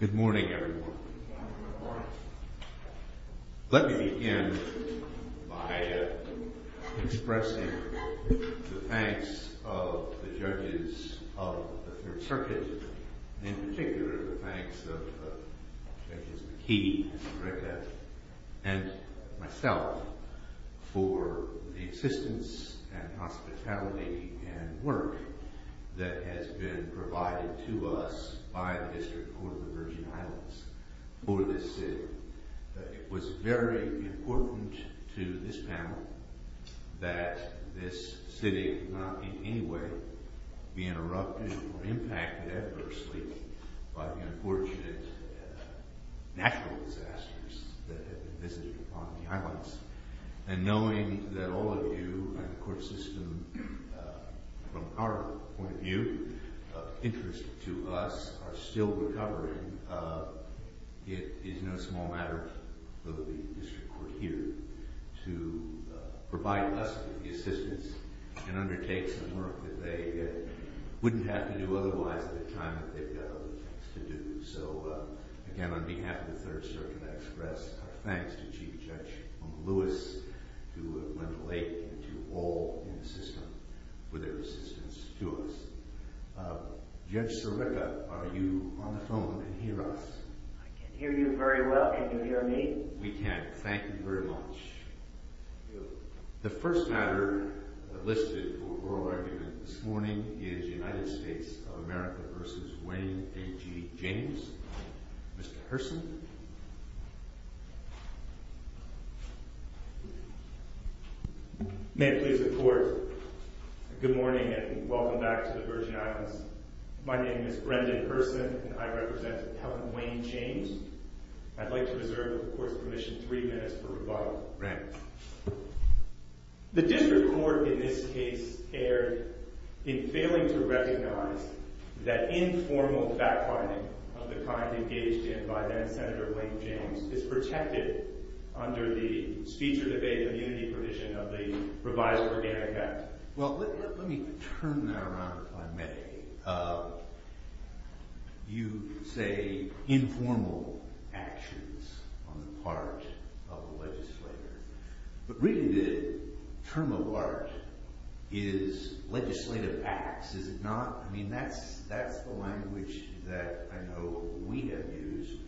Good morning, everyone. Let me begin by expressing the thanks of the judges of the Third Circuit, in particular the thanks of Judges McKee, Rickett, and myself for the assistance and trust by the District Court of the Virgin Islands for this sitting. It was very important to this panel that this sitting not in any way be interrupted or impacted adversely by the unfortunate natural disasters that have been visited upon the islands. And knowing that all of you in the court system, from our point of view, of interest to us, are still recovering, it is no small matter for the District Court here to provide us with the assistance and undertake some work that they wouldn't have to do otherwise at the time that they've got other things to do. So again, on behalf of the Third Circuit, I want to express our thanks to Chief Judge Lewis, to Wendell Lake, and to all in the system for their assistance to us. Judge Sirica, are you on the phone and can hear us? I can hear you very well. Can you hear me? We can. Thank you very much. Thank you. The first matter listed for oral argument this morning is United States of America v. Wayne J. James. Mr. Hurson? May it please the Court, good morning and welcome back to the Virgin Islands. My name is Brendan Hurson and I represent Appellant Wayne James. I'd like to reserve the Court's permission three minutes for rebuttal. The District Court in this case erred in failing to recognize that informal fact-finding of the kind engaged in by then-Senator Wayne James is protected under the speech or debate immunity provision of the revised Organic Act. Well, let me turn that around if I may. You say informal actions on the part of the legislator, but reading the term of art is legislative acts, is it not? I mean, that's the language that I know we have used.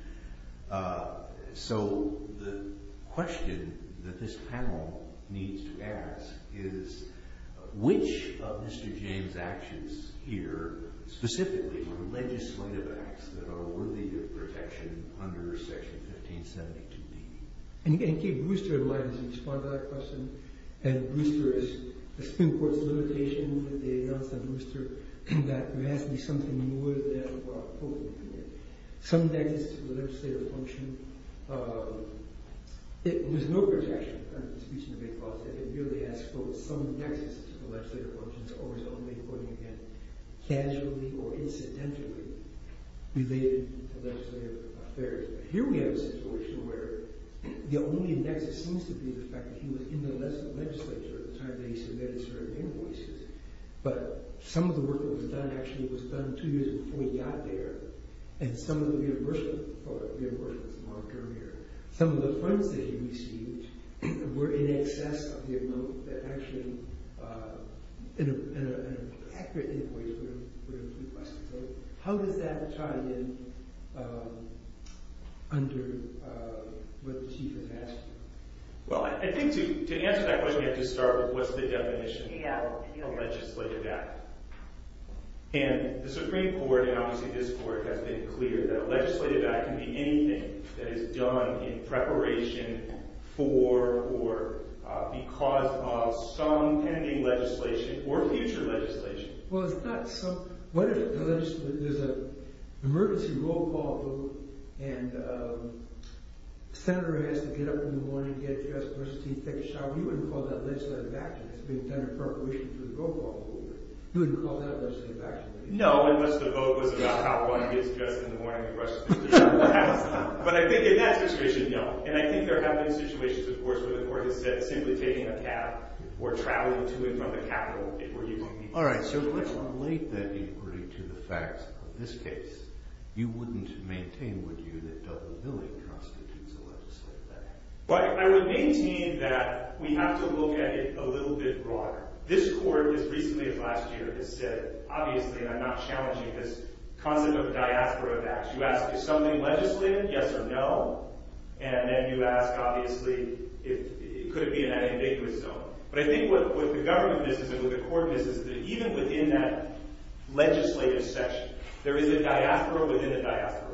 So the question that this panel needs to ask is, which of Mr. James' actions here specifically were legislative acts that are worthy of protection under Section 1572B? And again, keep Brewster in mind as you respond to that question. Brewster is a Supreme Court's limitation that they announced that Brewster got vastly something more than what I'm quoting here. Some nexus to the legislative function, there's no protection under the speech and debate clause. It really asks, quote, some nexus to the legislative functions, always only, quoting again, casually or incidentally related to legislative affairs. Here we have a situation where the only nexus seems to be the fact that he was in the legislature at the time that he submitted certain invoices, but some of the work that was done actually was done two years before he got there, and some of the reimbursement for reimbursements marked earlier, some of the funds that he received were in excess of the amount that actually an accurate invoice would have requested. So how does that tie in under what the Chief has asked? Well, I think to answer that question, you have to start with what's the definition of a legislative act? And the Supreme Court, and obviously this Court, has been clear that a legislative act can be anything that is done in preparation for or because of some pending legislation or future legislation. Well, it's not some, what if there's an emergency roll call vote and the Senator has to get up in the morning, get dressed, brush his teeth, take a shower, you wouldn't call that legislative action. It's being done in preparation for the roll call vote. You wouldn't call that legislative action. No, unless the vote was about how one gets dressed in the morning, brushes his teeth, takes a shower. But I think in that situation, no. And I think there have been situations of course where the Court has said simply taking a cab or traveling to and from the Capitol if we're using it. All right, so if we relate that inquiry to the facts of this case, you wouldn't maintain, would you, that double billing constitutes a legislative act? I would maintain that we have to look at it a little bit broader. This Court, as recently as last year, has said, obviously, and I'm not challenging this concept of a diaspora of acts, you ask is something legislative, yes or no, and then you ask, obviously, could there be an ambiguous zone? But I think what the government business and what the Court business is that even within that legislative section, there is a diaspora within a diaspora.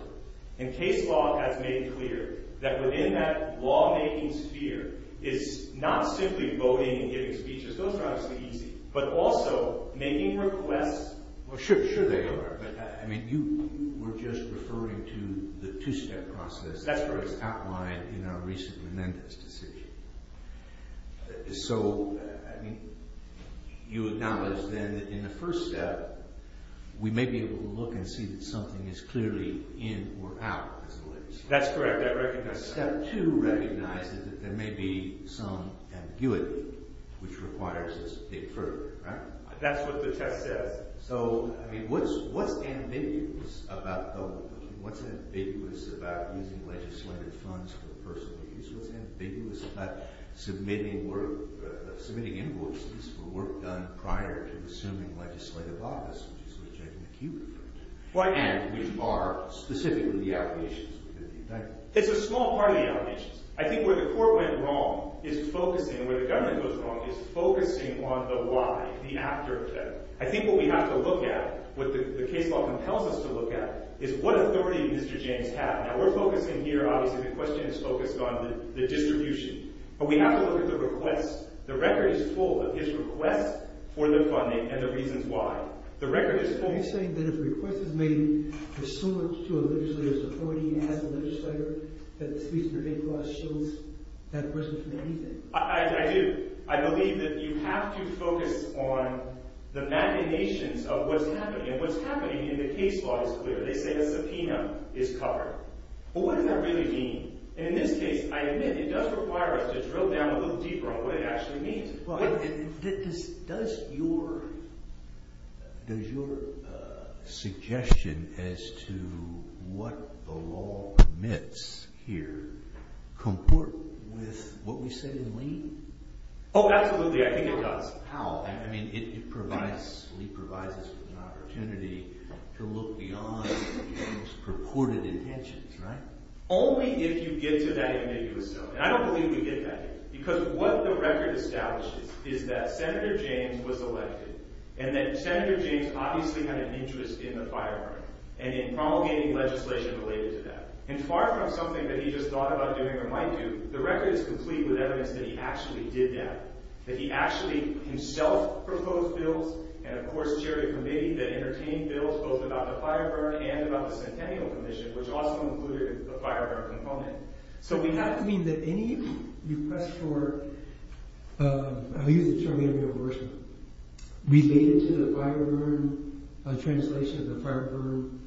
And case law has made clear that within that lawmaking sphere is not simply voting and giving speeches, those are obviously easy, but also making requests. Well, sure, sure they are. But I mean, you were just referring to the two-step process that was outlined in our recent Menendez decision. So, I mean, you acknowledge then that in the first step, we may be able to look and see that something is clearly in or out as a legislative action. That's correct, I recognize that. Step two recognizes that there may be some ambiguity which requires us to dig further, right? That's what the test says. So, I mean, what's ambiguous about using legislative funds for personal use? What's ambiguous about submitting invoices for work done prior to assuming legislative office, which is sort of checking the queue? Why and which are specifically the allegations within the indictment? It's a small part of the allegations. I think where the Court went wrong is focusing, and where the government goes wrong is focusing on the why, the after effect. I think what we have to look at, what the case law compels us to look at, is what authority do Mr. James have? Now, we're focusing here, obviously, the question is focused on the distribution. But we have to look at the requests. The record is full of his requests for the funding and the reasons why. The record is full. Are you saying that if a request is made, there's so much to a legislator's authority as a legislator, that the Sweetener-Vanquish shows that request for anything? I do. I believe that you have to focus on the machinations of what's happening. And what's happening in the case law is clear. They say the subpoena is covered. But what does that really mean? And in this case, I admit, it does require us to drill down a little deeper on what it actually means. Does your suggestion as to what the law commits here comport with what we say in Lee? Oh, absolutely. I think it does. How? I mean, Lee provides us with an opportunity to look beyond the most purported intentions, right? Only if you get to that ambiguous zone. And I don't believe we get that here. Because what the record establishes is that Senator James was elected, and that Senator James obviously had an interest in the fire burn, and in promulgating legislation related to that. And far from something that he just thought about doing or might do, the record is complete with evidence that he actually did that. That he actually himself proposed bills, and of course, chaired a committee that entertained bills both about the fire burn and about the Centennial Commission, which also included the fire burn component. So we have to mean that any request for, I'll use the term reimbursement, related to the fire burn, a translation of the fire burn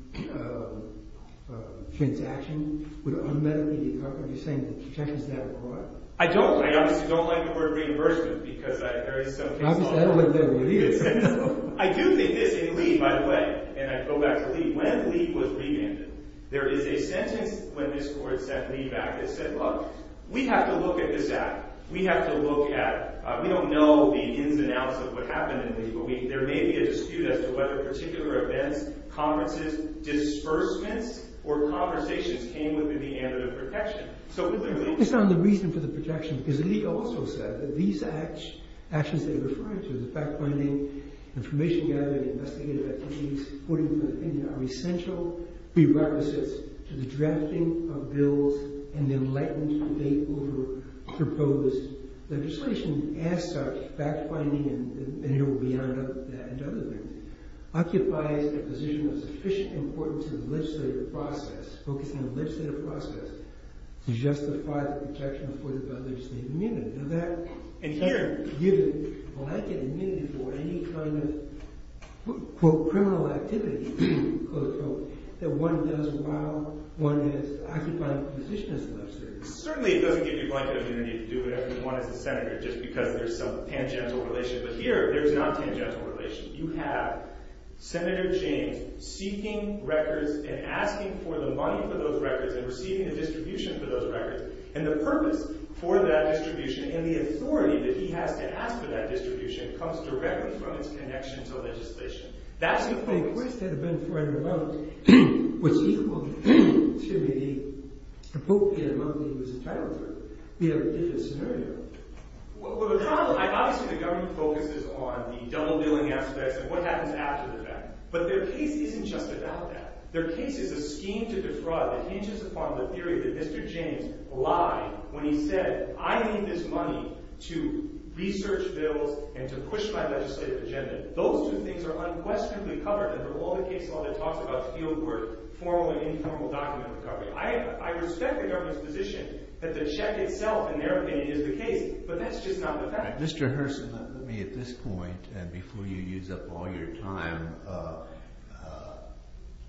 transaction, would unmetterly decouple, you're saying, the protections that it brought. I don't. I obviously don't like the word reimbursement, because there is something wrong with it. I don't think there really is. No. I do think this, in Lee, by the way, and I go back to Lee, when Lee was rebanded, there is a sentence when this court sent Lee back that said, look, we have to look at this act. We have to look at, we don't know the ins and outs of what happened in Lee, but there may be a dispute as to whether particular events, conferences, disbursements, or conversations came within the area of the protection. So clearly, Based on the reason for the protection, because Lee also said that these actions they're referring to, the fact-finding, information gathering, investigative activities, according to Lee, are essential prerequisites to the drafting of bills and the enlightened debate over proposed legislation. As such, fact-finding, and it will be added to other things, occupies a position of sufficient importance in the legislative process, focusing on the legislative process, to justify the protection afforded by legislative immunity. And here, Certainly it doesn't give you blanket immunity to do whatever you want as a senator, just because there's some tangential relation. But here, there's not tangential relation. You have Senator James seeking records and asking for the money for those records and receiving a distribution for those records. And the purpose for that distribution, and the authority that he has to ask for that distribution, comes directly from its connection to legislation. That's the focus. If the request had been for an amount which is equal to the appropriate amount that he was entitled for, we have a different scenario. Well, now, obviously the government focuses on the double-billing aspects and what happens after the fact. But their case isn't just about that. Their case is a scheme to defraud that hinges upon the theory that Mr. James lied when he said, I need this money to research bills and to push my legislative agenda. Those two things are unquestionably covered under all the case law that talks about field work, formal and informal document recovery. I respect the government's position that the check itself, in their opinion, is the case. But that's just not the fact. Mr. Hurston, let me, at this point, and before you use up all your time,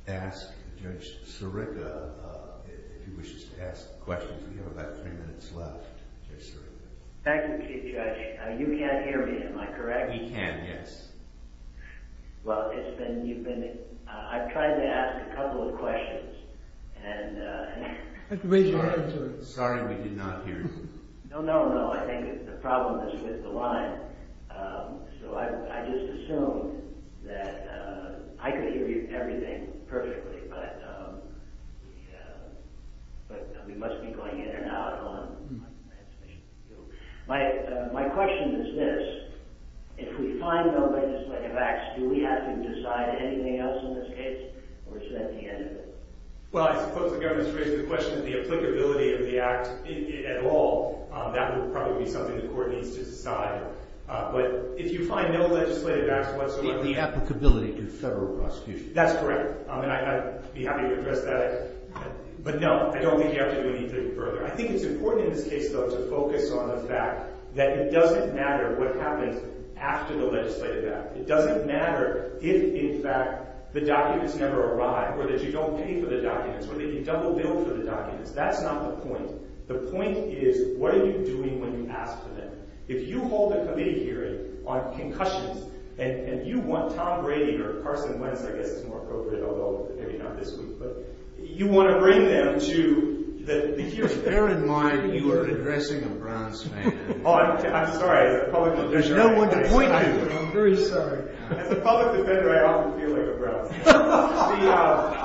ask Judge Sirica, if he wishes to ask questions. We have about three minutes left. Thank you, Judge. You can't hear me, am I correct? We can, yes. Well, it's been, you've been, I've tried to ask a couple of questions. Sorry, we did not hear you. No, no, no. I think the problem is with the line. So I just assumed that I could hear you, everything, perfectly. But we must be going in and out on my transmission. My question is this. If we find no legislative acts, do we have to decide anything else in this case? Or is that the end of it? Well, I suppose the government's raised the question of the applicability of the act at all. That would probably be something the court needs to decide. But if you find no legislative acts whatsoever. The applicability to federal prosecution. That's correct. And I'd be happy to address that. But no, I don't think you have to do anything further. I think it's important in this case, though, to focus on the fact that it doesn't matter what happens after the legislative act. It doesn't matter if, in fact, the documents never arrive. Or that you don't pay for the documents. Or that you double bill for the documents. That's not the point. The point is, what are you doing when you ask for them? If you hold a committee hearing on concussions, and you want Tom Brady, or Carson Wentz, I guess is more appropriate. Although, maybe not this week. But you want to bring them to the hearing. Bear in mind, you are addressing a Browns fan. Oh, I'm sorry. There's no one to point to. I'm very sorry. As a public defender, I often feel like a Browns fan. See,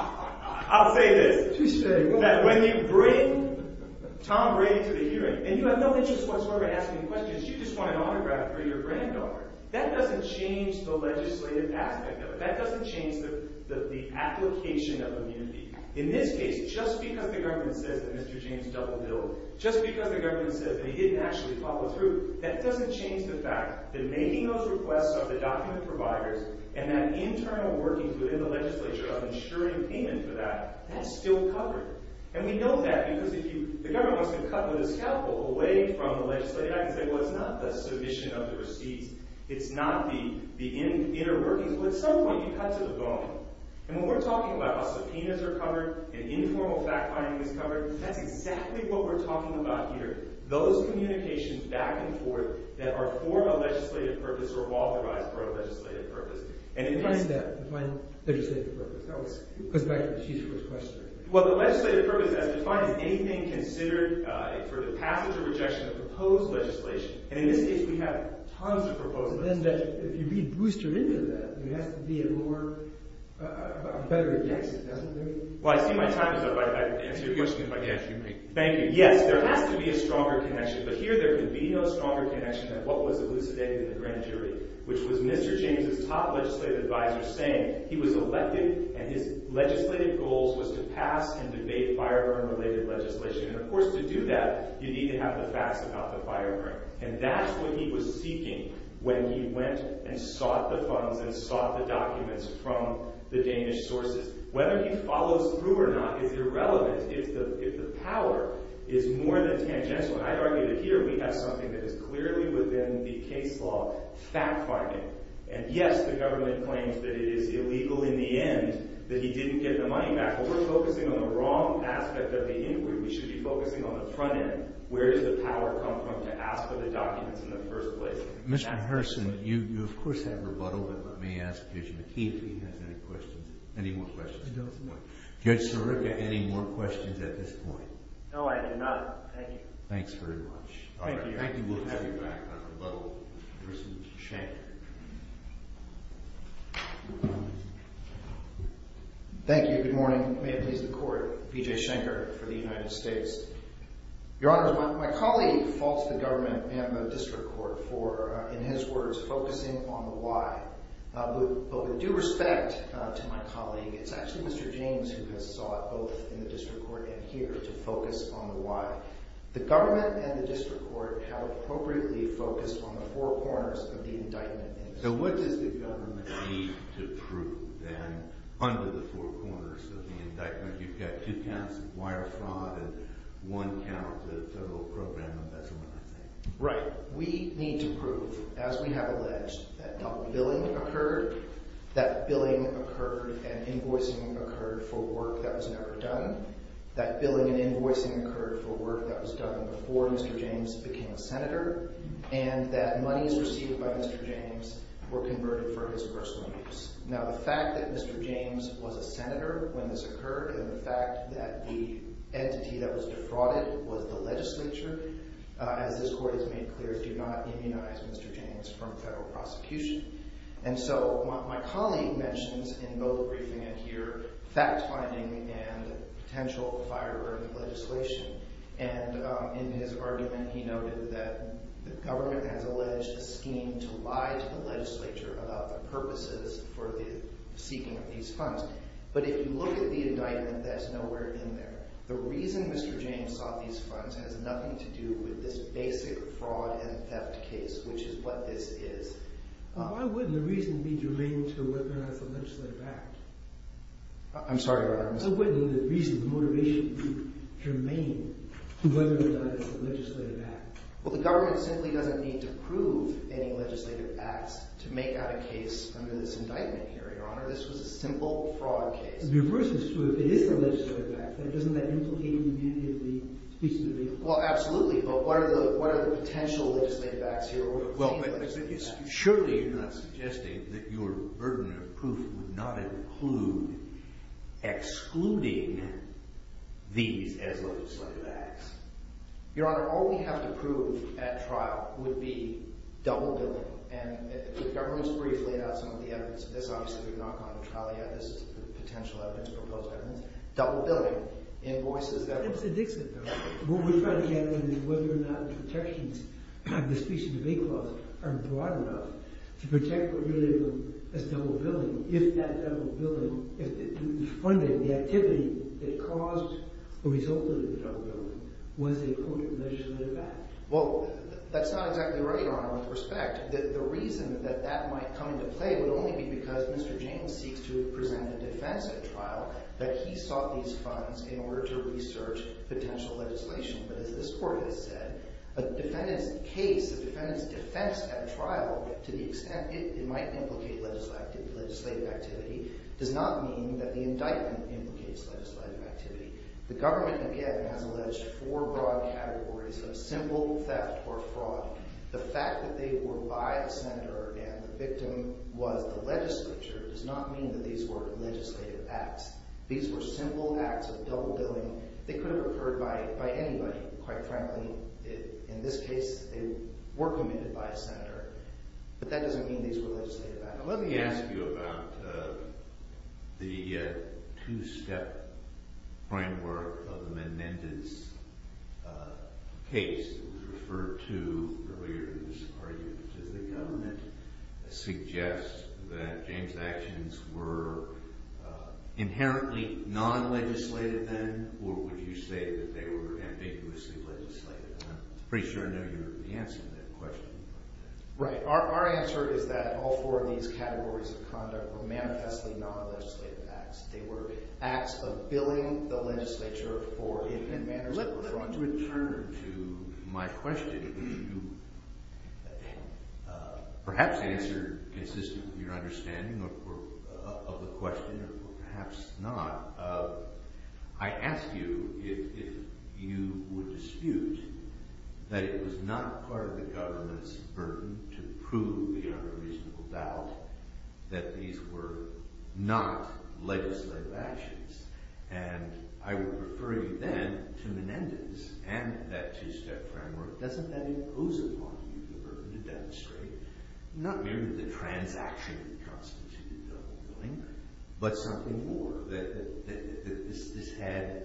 I'll say this. When you bring Tom Brady to the hearing, and you have no interest whatsoever in asking questions. You just want an autograph for your granddaughter. That doesn't change the legislative aspect of it. That doesn't change the application of immunity. In this case, just because the government says that Mr. James double billed. Just because the government says that he didn't actually follow through. That doesn't change the fact that making those requests of the document providers. And that internal workings within the legislature of insuring payment for that. That's still covered. And we know that, because the government wants to cut the scaffold away from the legislative act. And say, well, it's not the submission of the receipts. It's not the inner workings. Well, at some point, you cut to the bone. And when we're talking about how subpoenas are covered, and informal fact-finding is covered. That's exactly what we're talking about here. Those communications back and forth that are for a legislative purpose or authorized for a legislative purpose. Define that. Define legislative purpose. That goes back to the Chief's first question. Well, the legislative purpose as defined is anything considered for the passage or rejection of proposed legislation. And in this case, we have tons of proposals. But then if you re-boost her into that, there has to be a better rejection, doesn't there? Well, I see my time is up. I answered your question by answering me. Thank you. Yes, there has to be a stronger connection. But here, there can be no stronger connection than what was elucidated in the grand jury. Which was Mr. James' top legislative advisor saying he was elected and his legislative goals was to pass and debate firearm-related legislation. And of course, to do that, you need to have the facts about the firearm. And that's what he was seeking when he went and sought the funds and sought the documents from the Danish sources. Whether he follows through or not is irrelevant if the power is more than tangential. And I'd argue that here we have something that is clearly within the case law fact-finding. And yes, the government claims that it is illegal in the end that he didn't get the money back. But we're focusing on the wrong aspect of the inquiry. We should be focusing on the front end. Where does the power come from to ask for the documents in the first place? Mr. Herson, you of course have rebuttal, but let me ask Judge McKee if he has any questions. Any more questions at this point? Judge Sirica, any more questions at this point? No, I do not. Thank you. Thanks very much. Thank you. Thank you. We'll have you back on rebuttal. Mr. Shank. Thank you. Good morning. May it please the Court. BJ Shanker for the United States. Your Honor, my colleague faults the government and the district court for, in his words, focusing on the why. But with due respect to my colleague, it's actually Mr. James who has sought both in the district court and here to focus on the why. The government and the district court have appropriately focused on the four corners of the indictment. So what does the government need to prove then under the four corners of the indictment? You've got two counts of wire fraud and one count of total program embezzlement, I think. Right. We need to prove, as we have alleged, that double billing occurred, that billing occurred and invoicing occurred for work that was never done, that billing and invoicing occurred for work that was done before Mr. James became a senator, and that monies received by Mr. James were converted for his personal use. Now, the fact that Mr. James was a senator when this occurred and the fact that the entity that was defrauded was the legislature, as this Court has made clear, do not immunize Mr. James from federal prosecution. And so my colleague mentions in both the briefing and here fact-finding and potential firework legislation. And in his argument, he noted that the government has alleged a scheme to lie to the legislature about the purposes for the seeking of these funds. But if you look at the indictment, that's nowhere in there. The reason Mr. James sought these funds has nothing to do with this basic fraud and theft case, which is what this is. Why wouldn't the reason be germane to weaponize the Legislative Act? I'm sorry, Your Honor. Why wouldn't the reason, the motivation be germane to weaponize the Legislative Act? Well, the government simply doesn't need to prove any legislative acts to make that a case under this indictment here, Your Honor. This was a simple fraud case. The reverse is true. If it is the Legislative Act, then doesn't that implicate immunity of the speech to the people? Well, absolutely. But what are the potential legislative acts here? Well, surely you're not suggesting that your burden of proof would not include excluding these as legislative acts. Your Honor, all we have to prove at trial would be double-billing. And the government has briefly laid out some of the evidence of this. Obviously, we've not gone to trial yet. This is the potential evidence, proposed evidence. Double-billing, invoices that— What we're trying to get at is whether or not the protections of the speech and debate clause are broad enough to protect what really is double-billing. If that double-billing, if the funding, the activity that caused or resulted in the double-billing was a potent legislative act. Well, that's not exactly right, Your Honor, with respect. The reason that that might come into play would only be because Mr. James seeks to present a defense at trial that he sought these funds in order to research potential legislation. But as this Court has said, a defendant's case, a defendant's defense at trial, to the extent it might implicate legislative activity, does not mean that the indictment implicates legislative activity. The government, again, has alleged four broad categories of simple theft or fraud. The fact that they were by a senator and the victim was the legislature does not mean that these were legislative acts. These were simple acts of double-billing. They could have occurred by anybody, quite frankly. In this case, they were committed by a senator. But that doesn't mean these were legislative acts. Let me ask you about the two-step framework of the Menendez case that was referred to earlier in this argument. Does the government suggest that James' actions were inherently non-legislative then or would you say that they were ambiguously legislative? I'm pretty sure I know your answer to that question. Right. Our answer is that all four of these categories of conduct were manifestly non-legislative acts. They were acts of billing the legislature for hidden manners that were fraudulent. Let me return to my question, which you perhaps answered consistent with your understanding of the question or perhaps not. I ask you if you would dispute that it was not part of the government's burden to prove beyond a reasonable doubt that these were not legislative actions. And I would refer you then to Menendez and that two-step framework. Doesn't that impose upon you the burden to demonstrate not merely the transaction that constitutes a bill of billing but something more, that this had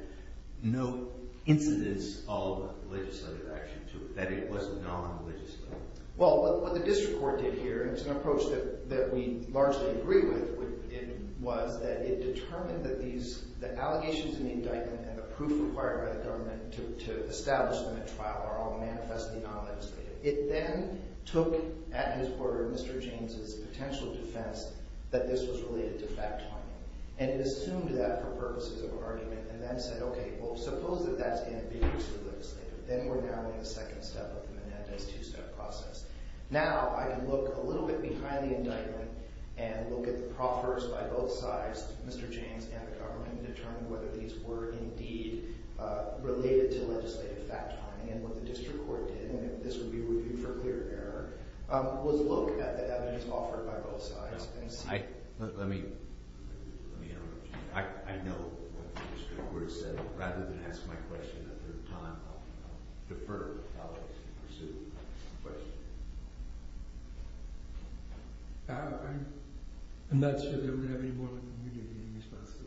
no incidence of legislative action to it, that it was non-legislative? Well, what the district court did here, and it's an approach that we largely agree with, was that it determined that the allegations in the indictment and the proof required by the government to establish them at trial are all manifestly non-legislative. It then took at his word, Mr. James' potential defense, that this was related to fact-finding. And it assumed that for purposes of argument and then said, okay, well, suppose that that's ambiguously legislative. Then we're now in the second step of the Menendez two-step process. Now I can look a little bit behind the indictment and look at the proffers by both sides, Mr. James and the government, and determine whether these were indeed related to legislative fact-finding. And what the district court did, and this would be reviewed for clear error, was look at the evidence offered by both sides and see. Let me interrupt you. I know what the district court said. Rather than ask my question a third time, I'll defer to colleagues to pursue the question. I'm not sure that we have any more than we do in response to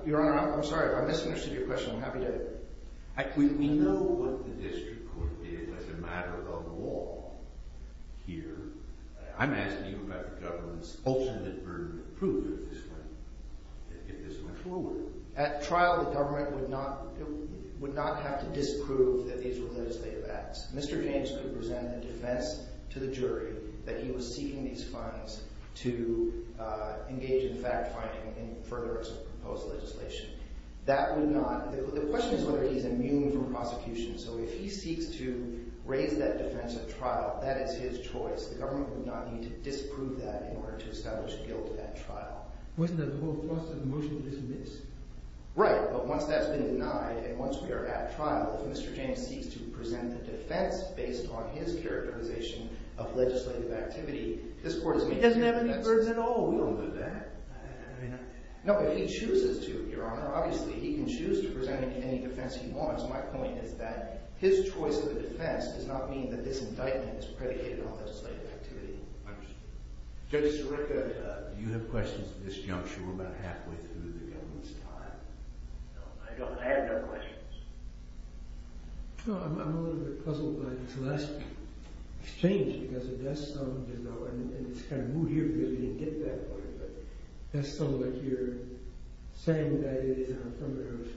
that. Your Honor, I'm sorry. If I misunderstood your question, I'm happy to. We know what the district court did as a matter of law here. I'm asking you about the government's ultimate burden of proof at this point, if this were true. At trial, the government would not have to disprove that these were legislative acts. Mr. James could present a defense to the jury that he was seeking these funds to engage in fact-finding and further as a proposed legislation. That would not – the question is whether he's immune from prosecution. So if he seeks to raise that defense at trial, that is his choice. The government would not need to disprove that in order to establish guilt at trial. Wasn't that the whole thrust of the motion? It isn't this? Right. But once that's been denied and once we are at trial, if Mr. James seeks to present a defense based on his characterization of legislative activity, this court is making – He doesn't have any burden at all. We don't do that. I know. No, but he chooses to, Your Honor. Obviously, he can choose to present any defense he wants. My point is that his choice of a defense does not mean that this indictment is predicated on legislative activity. I understand. Judge Sirica, do you have questions at this juncture? We're about halfway through the government's time. No, I don't. I have no questions. I'm a little bit puzzled by this last exchange because it does sound as though – and it's kind of moot here because we didn't get that point – but it does sound like you're saying that it is an affirmative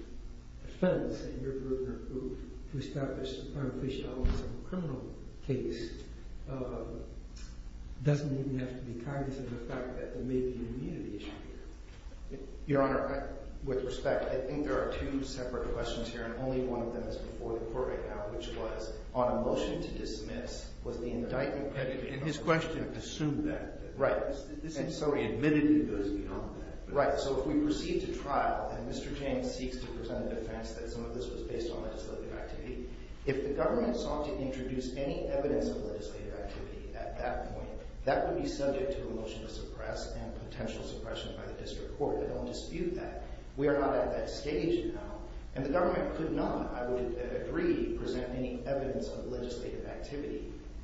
defense and your burden of proof to establish the primary case of a criminal case doesn't even have to be cognizant of the fact that there may be an immunity issue here. Your Honor, with respect, I think there are two separate questions here, and only one of them is before the court right now, which was, on a motion to dismiss, was the indictment predicated on that? And his question assumed that. Right. And so he admitted he goes beyond that. Right. So if we proceed to trial and Mr. James seeks to present a defense that some of this was based on legislative activity, if the government sought to introduce any evidence of legislative activity at that point, that would be subject to a motion to suppress and potential suppression by the district court. I don't dispute that. We are not at that stage now. And the government could not, I would agree, present any evidence of legislative activity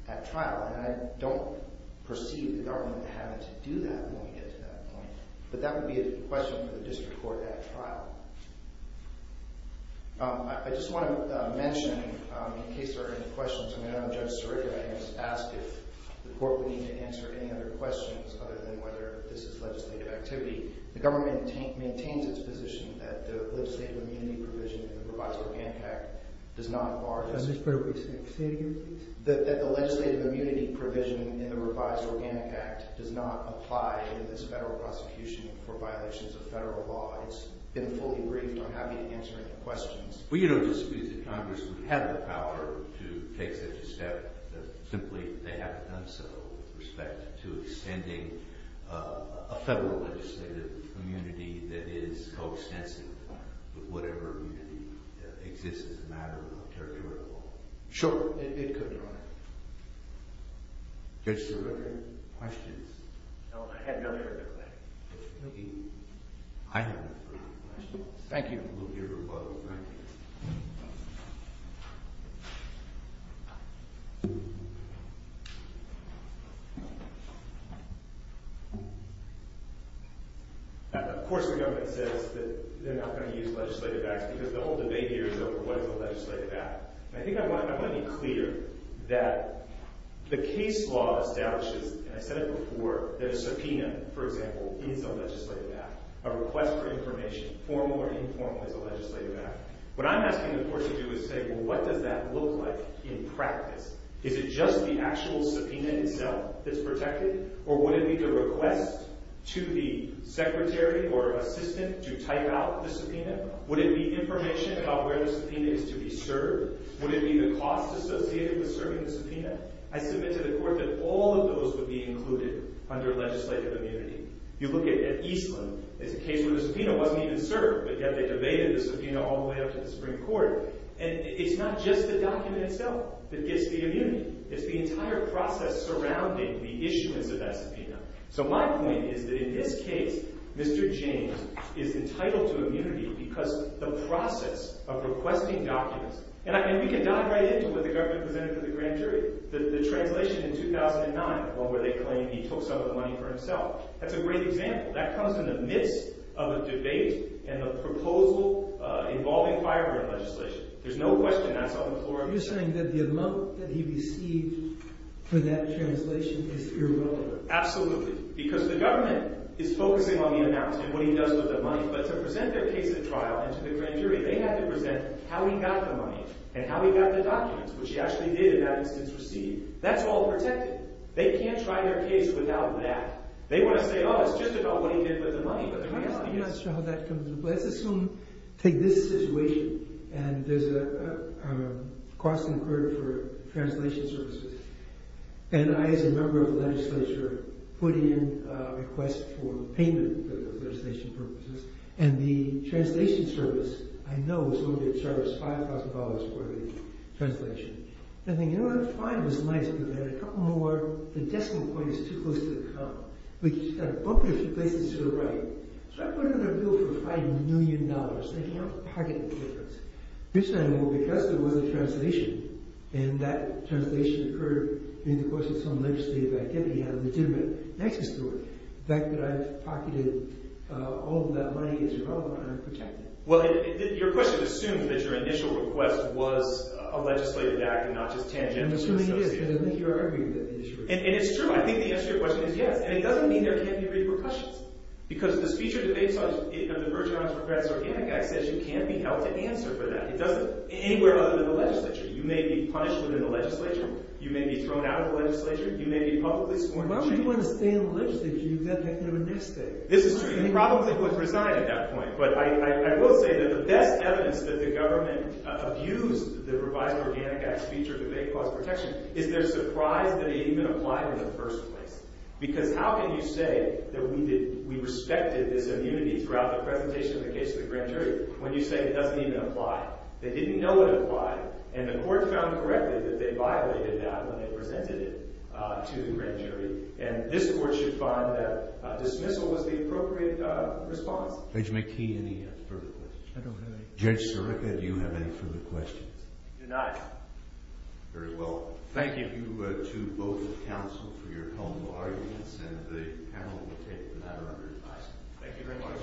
at trial, and I don't perceive the government having to do that when we get to that point. But that would be a question for the district court at trial. I just want to mention, in case there are any questions, I know Judge Sirica has asked if the court would need to answer any other questions other than whether this is legislative activity. The government maintains its position that the legislative immunity provision in the revised Organic Act does not bar this. Well, you don't dispute that Congress would have the power to take such a step. Simply, they haven't done so with respect to extending a federal legislative immunity that is coextensive with whatever immunity exists as a matter of territorial law. Sure, it could, Your Honor. Judge Sirica, any questions? No, I had nothing to add to that. I have no further questions. Thank you. Of course the government says that they're not going to use legislative acts because the whole debate here is over what is a legislative act. I think I want to be clear that the case law establishes, and I said it before, that a subpoena, for example, is a legislative act. A request for information, formal or informal, is a legislative act. What I'm asking the court to do is say, well, what does that look like in practice? Is it just the actual subpoena itself that's protected? Or would it be the request to the secretary or assistant to type out the subpoena? Would it be information about where the subpoena is to be served? Would it be the cost associated with serving the subpoena? I submit to the court that all of those would be included under legislative immunity. You look at Eastland. It's a case where the subpoena wasn't even served, but yet they debated the subpoena all the way up to the Supreme Court. And it's not just the document itself that gets the immunity. So my point is that in this case, Mr. James is entitled to immunity because of the process of requesting documents. And we can dive right into what the government presented to the grand jury. The translation in 2009 where they claimed he took some of the money for himself. That's a great example. That comes in the midst of a debate and a proposal involving firearm legislation. There's no question that's on the floor of the court. You're saying that the amount that he received for that translation is irrelevant? Absolutely. Because the government is focusing on the amount and what he does with the money. But to present their case at trial and to the grand jury, they have to present how he got the money and how he got the documents, which he actually did in that instance receive. That's all protected. They can't try their case without that. They want to say, oh, it's just about what he did with the money. I'm not sure how that comes into play. Let's assume, take this situation, and there's a cost incurred for translation services. And I, as a member of the legislature, put in a request for payment for those legislation purposes. And the translation service, I know, is going to get charged $5,000 for the translation. And I think, you know what? Fine. It was nice. We had a couple more. The decimal point is too close to the comma. But you've got to bump it a few places to the right. So I put in a bill for $5 million. They can't pocket the difference. Well, because there was a translation, and that translation occurred in the course of some legislative activity. He had a legitimate access to it. The fact that I've pocketed all of that money is irrelevant. I don't protect it. Well, your question assumes that your initial request was a legislative act and not just tangential. I'm assuming it is, because I think you're arguing that the issue is. And it's true. I think the answer to your question is yes. And it doesn't mean there can't be repercussions. Because the speech or debate clause of the Virgin Islands Revised Organic Act says you can't be held to answer for that. It doesn't. Anywhere other than the legislature. You may be punished within the legislature. You may be thrown out of the legislature. You may be publicly sworn in. Why would you want to stay in the legislature? You've got to have a next state. This is true. You probably would resign at that point. But I will say that the best evidence that the government abused the Revised Organic Act speech or debate clause of protection is their surprise that it even applied in the first place. Because how can you say that we respected this immunity throughout the presentation of the case to the grand jury when you say it doesn't even apply? They didn't know it applied. And the court found correctly that they violated that when they presented it to the grand jury. And this court should find that dismissal was the appropriate response. Judge McKee, any further questions? I don't have any. Judge Sirica, do you have any further questions? I do not. Very well. Thank you. Thank you to both counsel for your helpful arguments, and the panel will take the matter under review. Thank you very much.